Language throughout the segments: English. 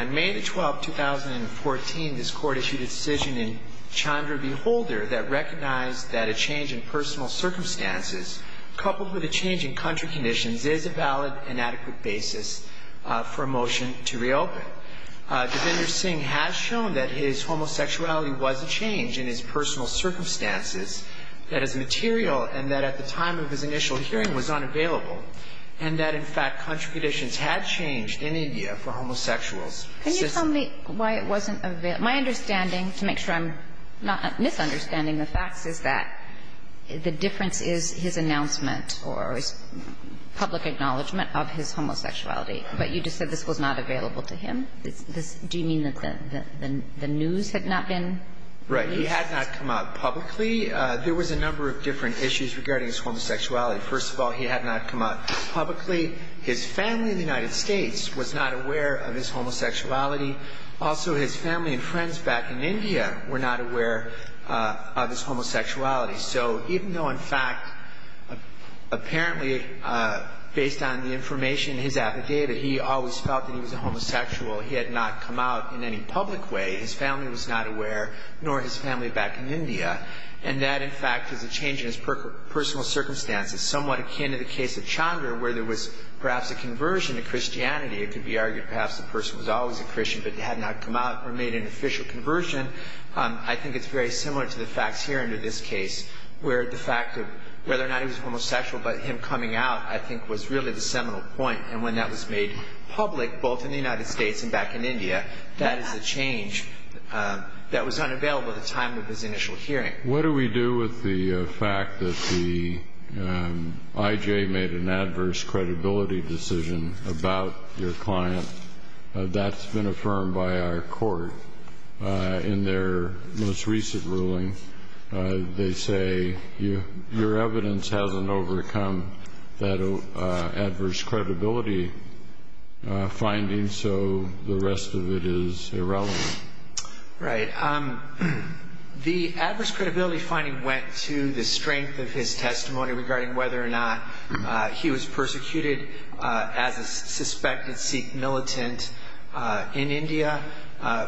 On May 12, 2014, this Court issued a decision in Chandra v. Holder that recognized that a change in personal circumstances, coupled with a change in country conditions, is a valid and adequate basis for a motion to reopen. Mr. Singh has shown that his homosexuality was a change in his personal circumstances that is material and that, at the time of his initial hearing, was unavailable, and that, in fact, country conditions had changed in India for homosexuals. Can you tell me why it wasn't available? My understanding, to make sure I'm not misunderstanding the facts, is that the difference is his announcement or his public acknowledgment of his homosexuality, but you just said this was not available to him? Do you mean that the news had not been released? Right. He had not come out publicly. There was a number of different issues regarding his homosexuality. First of all, he had not come out publicly. His family in the United States was not aware of his homosexuality. Also his family and friends back in India were not aware of his homosexuality. So even though, in fact, apparently, based on the information in his affidavit, he always felt that he was a homosexual, he had not come out in any public way, his family was not aware, nor his family back in India, and that, in fact, is a change in his personal circumstances, somewhat akin to the case of Chandra, where there was perhaps a conversion to Christianity. It could be argued perhaps the person was always a Christian, but had not come out or made an official conversion. I think it's very similar to the facts here under this case, where the fact of whether or not he was homosexual, but him coming out, I think was really the seminal point, and when that was made public, both in the United States and back in India, that is a change that was unavailable at the time of his initial hearing. What do we do with the fact that the IJ made an adverse credibility decision about your client? That's been affirmed by our court in their most recent ruling. They say your evidence hasn't overcome that adverse credibility finding, so the rest of it is irrelevant. Right. The adverse credibility finding went to the strength of his testimony regarding whether or not he was persecuted as a suspected Sikh militant in India.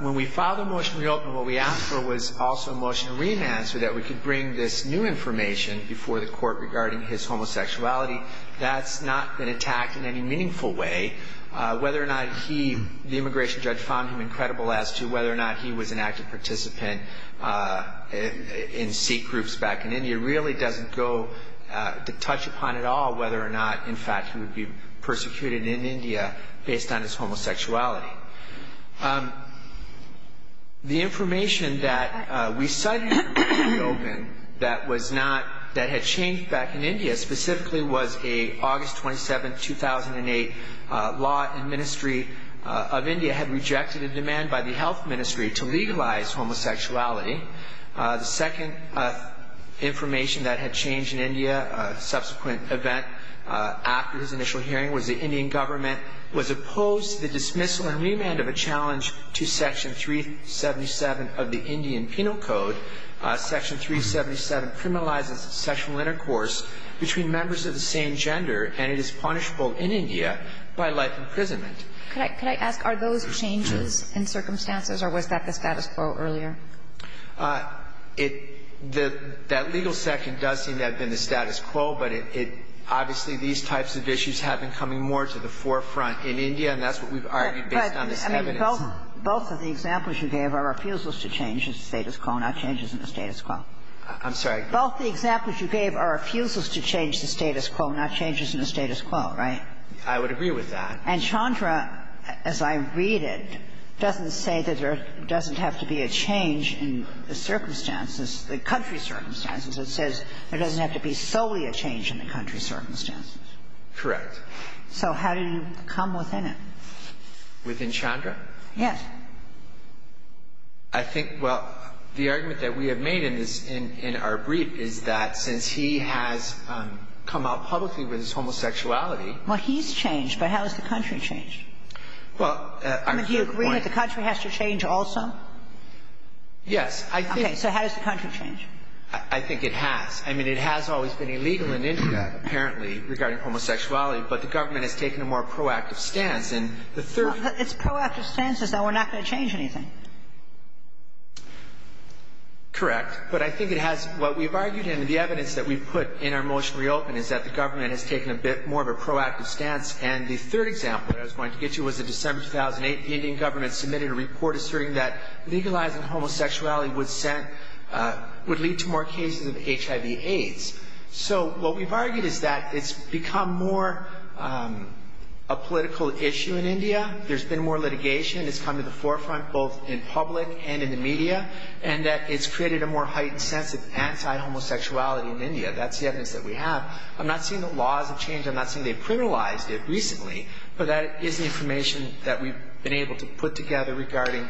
When we filed a motion to reopen, what we asked for was also a motion to re-enact so that we could bring this new information before the court regarding his homosexuality. That's not been attacked in any meaningful way. Whether or not the immigration judge found him incredible as to whether or not he was an active participant in Sikh groups back in India really doesn't touch upon at all whether or not, in fact, he would be persecuted in India based on his homosexuality. The information that we cited for reopening that had changed back in India specifically was an August 27, 2008, law and ministry of India had rejected a demand by the health ministry to legalize homosexuality. The second information that had changed in India, a subsequent event after his initial hearing was the Indian government was opposed to the dismissal and remand of a challenge to Section 377 of the Indian Penal Code. Section 377 criminalizes sexual intercourse between members of the same gender, and it is punishable in India by life imprisonment. Could I ask, are those changes in circumstances, or was that the status quo earlier? It – that legal section does seem to have been the status quo, but it – obviously, these types of issues have been coming more to the forefront in India, and that's what we've argued based on this evidence. But, I mean, both of the examples you gave are refusals to change the status quo, not changes in the status quo. I'm sorry. Both the examples you gave are refusals to change the status quo, not changes in the status quo, right? I would agree with that. And Chandra, as I read it, doesn't say that there doesn't have to be a change in the circumstances, the country's circumstances. It says there doesn't have to be solely a change in the country's circumstances. Correct. So how do you come within it? Within Chandra? Yes. I think, well, the argument that we have made in this – in our brief is that since he has come out publicly with his homosexuality – Well, he's changed, but how has the country changed? Well, I'm sure the point – I mean, do you agree that the country has to change also? Yes, I think – Okay, so how does the country change? I think it has. I mean, it has always been illegal in India, apparently, regarding homosexuality, but the government has taken a more proactive stance, and the third – Its proactive stance is that we're not going to change anything. Correct. But I think it has – what we've argued and the evidence that we've put in our motion to reopen is that the government has taken a bit more of a proactive stance, and the third example that I was going to get to was in December 2008, the Indian government submitted a report asserting that legalizing homosexuality would lead to more cases of HIV-AIDS. So what we've argued is that it's become more a political issue in India. There's been more litigation. It's come to the forefront, both in public and in the media, and that it's created a more heightened sense of anti-homosexuality in India. That's the evidence that we have. I'm not saying the laws have changed. I'm not saying they've criminalized it recently, but that is the information that we've been able to put together regarding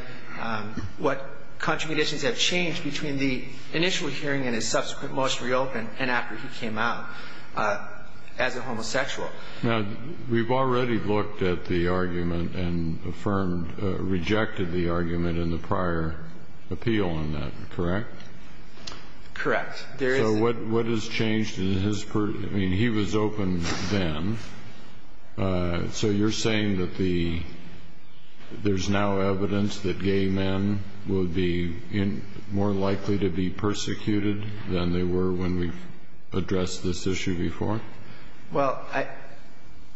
what contributions have changed between the initial hearing and his subsequent motion to reopen and after he came out as a homosexual. Now, we've already looked at the argument and affirmed – rejected the argument in the prior appeal on that, correct? Correct. So what has changed in his – I mean, he was open then. So you're saying that there's now evidence that gay men will be more likely to be persecuted than they were when we addressed this issue before? Well,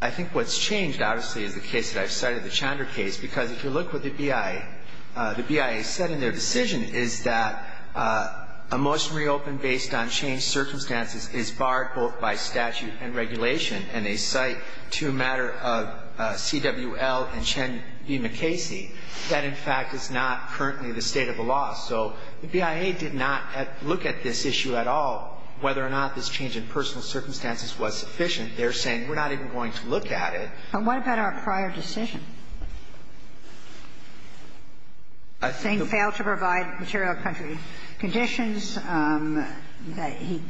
I think what's changed, obviously, is the case that I've cited, the Chander case, because if you look with the BIA, the BIA said in their decision is that a motion reopened based on changed circumstances is barred both by statute and regulation, and they cite to a matter of CWL and Chen v. McCasey that, in fact, is not currently the state of the law. So the BIA did not look at this issue at all, whether or not this change in personal circumstances was sufficient. They're saying we're not even going to look at it. And what about our prior decision? I think the – He failed to provide material country conditions. He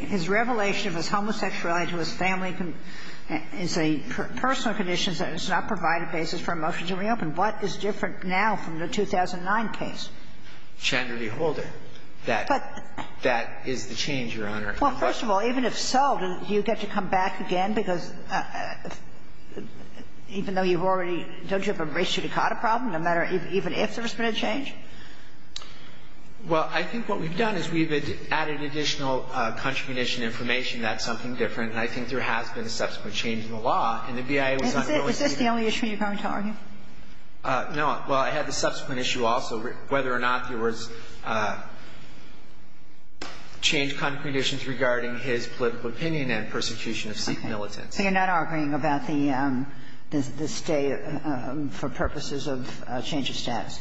– his revelation of his homosexuality to his family is a personal condition that has not provided basis for a motion to reopen. What is different now from the 2009 case? Chander v. Holder. But – That is the change, Your Honor. Well, first of all, even if so, do you get to come back again? Because even though you've already – don't you have a race-judicata problem no matter – even if there's been a change? Well, I think what we've done is we've added additional country condition information. That's something different. And I think there has been a subsequent change in the law, and the BIA was unwilling to see it. Is this the only issue you're going to argue? No. Well, I had the subsequent issue also, whether or not there was changed country conditions regarding his political opinion and persecution of Sikh militants. So you're not arguing about the stay for purposes of change of status?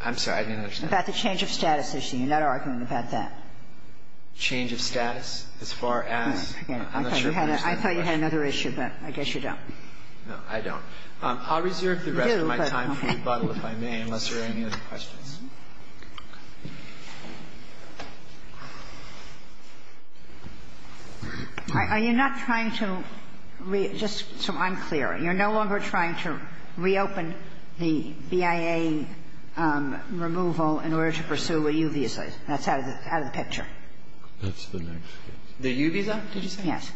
I'm sorry. I didn't understand. About the change of status issue. You're not arguing about that? Change of status as far as? I'm not sure if I understand that. I thought you had another issue, but I guess you don't. No, I don't. I'll reserve the rest of my time for rebuttal if I may, unless there are any other questions. Are you not trying to re- just so I'm clear, you're no longer trying to reopen the BIA removal in order to pursue a U visa? That's out of the picture. That's the next case. The U visa, did you say? Yes.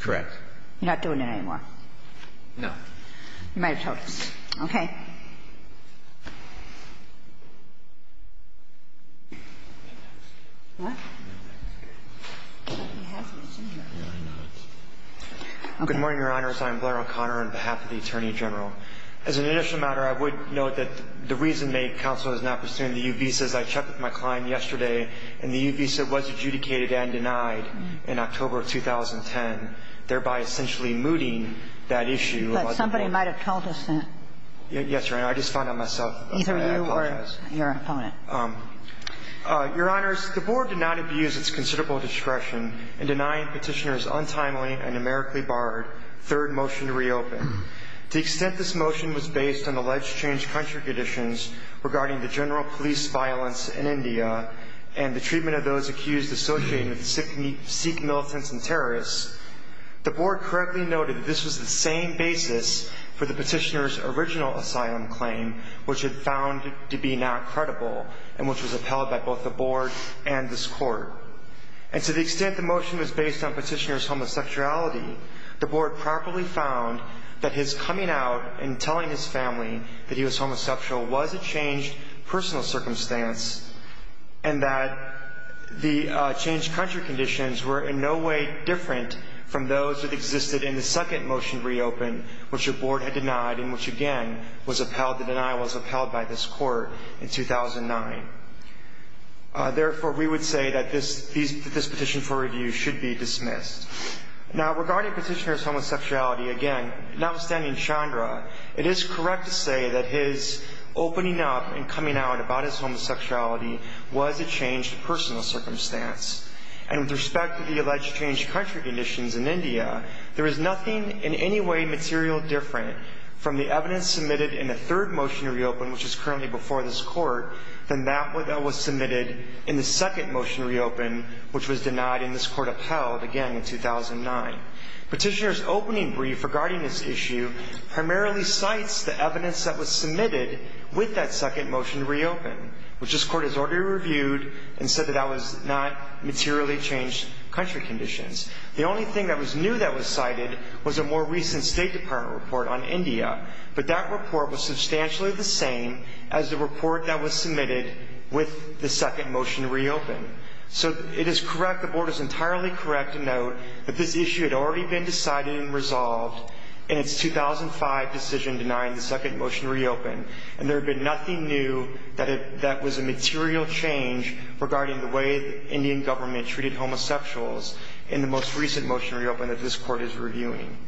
Correct. You're not doing it anymore? No. You might have told us. Okay. What? Good morning, Your Honors. I'm Blair O'Connor on behalf of the Attorney General. As an initial matter, I would note that the reason may counsel is not pursuing the U visa, as I checked with my client yesterday, and the U visa was adjudicated and denied in October of 2010, thereby essentially mooting that issue. But somebody might have told us that. Yes, Your Honor. I just found out myself. Either you or your opponent. Your Honors, the Board did not abuse its considerable discretion in denying petitioners untimely a numerically barred third motion to reopen. To the extent this motion was based on alleged changed country conditions regarding the general police violence in India and the treatment of those accused associated with Sikh militants and terrorists, the Board correctly noted that this was the same basis for the petitioner's original asylum claim, which it found to be not credible and which was upheld by both the Board and this Court. And to the extent the motion was based on petitioner's homosexuality, the Board properly found that his coming out and telling his family that he was homosexual was a changed personal circumstance and that the changed country conditions were in no way different from those that existed in the second motion reopened, which the Board had denied and which again, the denial was upheld by this Court in 2009. Therefore, we would say that this petition for review should be dismissed. Now, regarding petitioner's homosexuality, again, notwithstanding Chandra, it is correct to say that his opening up and coming out about his homosexuality was a changed personal circumstance. And with respect to the alleged changed country conditions in India, there is nothing in any way material different from the evidence submitted in the third motion reopened, which is currently before this Court, than that that was submitted in the second motion reopened, which was denied and this Court upheld again in 2009. Petitioner's opening brief regarding this issue primarily cites the evidence that was submitted with that second motion reopened, which this Court has already reviewed and said that that was not materially changed country conditions. The only thing that was new that was cited was a more recent State Department report on India, but that report was substantially the same as the report that was submitted with the second motion reopened. So it is correct, the Board is entirely correct to note that this issue had already been decided and resolved in its 2005 decision denying the second motion reopened, and there had been nothing new that was a material change regarding the way the Indian government treated homosexuals in the most recent motion reopened that this Court is reviewing.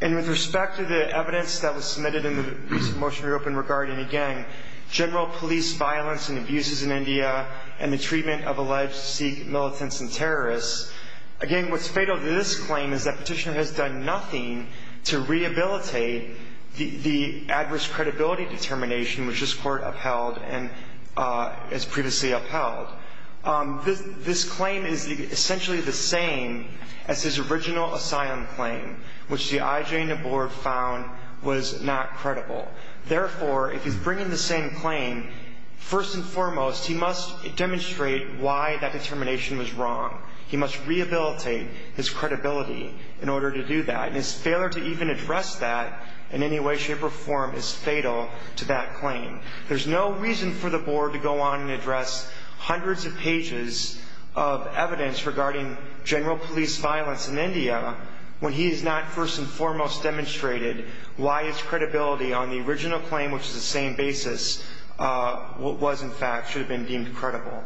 And with respect to the evidence that was submitted in the recent motion reopened regarding, again, general police violence and abuses in India and the treatment of alleged Sikh militants and terrorists, again, what's fatal to this claim is that Petitioner has done nothing to rehabilitate the adverse credibility determination which this Court upheld and has previously upheld. This claim is essentially the same as his original asylum claim, which the IJNA Board found was not credible. Therefore, if he's bringing the same claim, first and foremost, he must demonstrate why that determination was wrong. He must rehabilitate his credibility in order to do that, and his failure to even address that in any way, shape, or form is fatal to that claim. There's no reason for the Board to go on and address hundreds of pages of evidence regarding general police violence in India when he has not first and foremost demonstrated why his credibility on the original claim, which is the same basis, was, in fact, should have been deemed credible.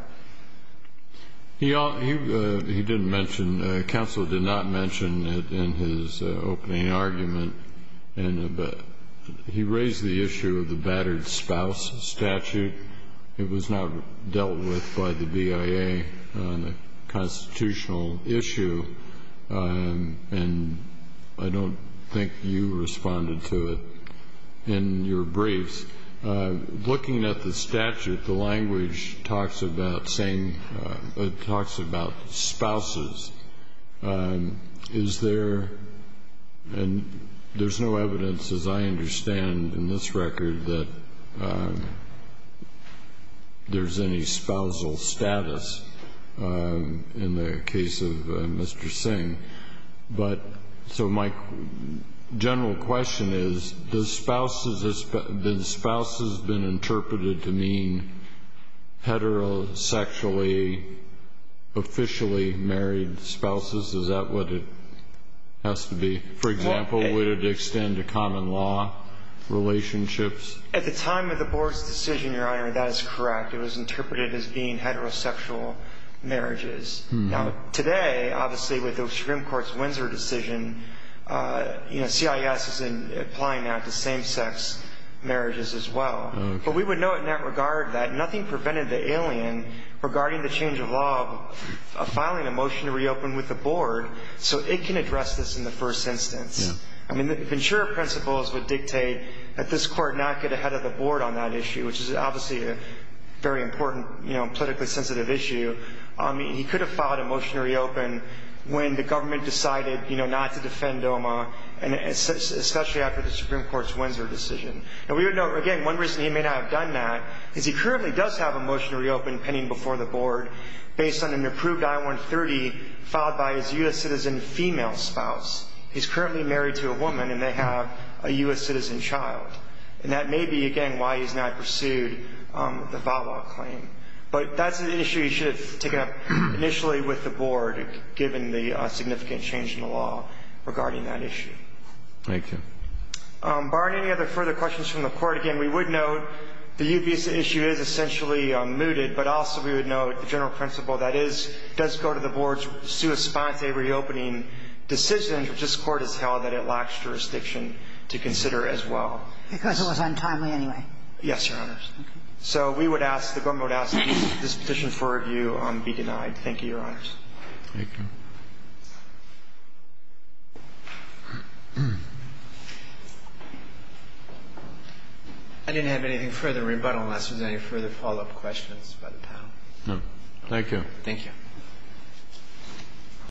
He didn't mention, counsel did not mention it in his opening argument. And he raised the issue of the battered spouse statute. It was not dealt with by the BIA on a constitutional issue. And I don't think you responded to it in your briefs. Looking at the statute, the language talks about same, it talks about spouses. Is there, and there's no evidence as I understand in this record that there's any spousal status in the case of Mr. Singh. But, so my general question is, the spouses have been interpreted to mean heterosexually officially married spouses. Is that what it has to be? For example, would it extend to common law relationships? At the time of the Board's decision, Your Honor, that is correct. It was interpreted as being heterosexual marriages. Now, today, obviously, with the Supreme Court's Windsor decision, CIS is applying that to same-sex marriages as well. But we would note in that regard that nothing prevented the alien, regarding the change of law, of filing a motion to reopen with the Board, so it can address this in the first instance. I mean, Ventura principles would dictate that this court not get ahead of the Board on that issue, which is obviously a very important politically sensitive issue. He could have filed a motion to reopen when the government decided not to defend DOMA, and especially after the Supreme Court's Windsor decision. And we would note, again, one reason he may not have done that is he currently does have a motion to reopen pending before the Board based on an approved I-130 filed by his U.S. citizen female spouse. He's currently married to a woman, and they have a U.S. citizen child. And that may be, again, why he's not pursued the VAWA claim. But that's an issue he should have taken up initially with the Board, given the significant change in the law regarding that issue. Thank you. Barney, any other further questions from the Court? Again, we would note the UPS issue is essentially mooted, but also we would note the general principle that it does go to the Board's sua sponsa reopening decision, which this Court has held that it lacks jurisdiction to consider as well. Because it was untimely anyway. Yes, Your Honors. So we would ask, the government would ask this petition for review be denied. Thank you, Your Honors. Thank you. I didn't have anything further in rebuttal unless there's any further follow-up questions by the panel. No. Thank you. Thank you.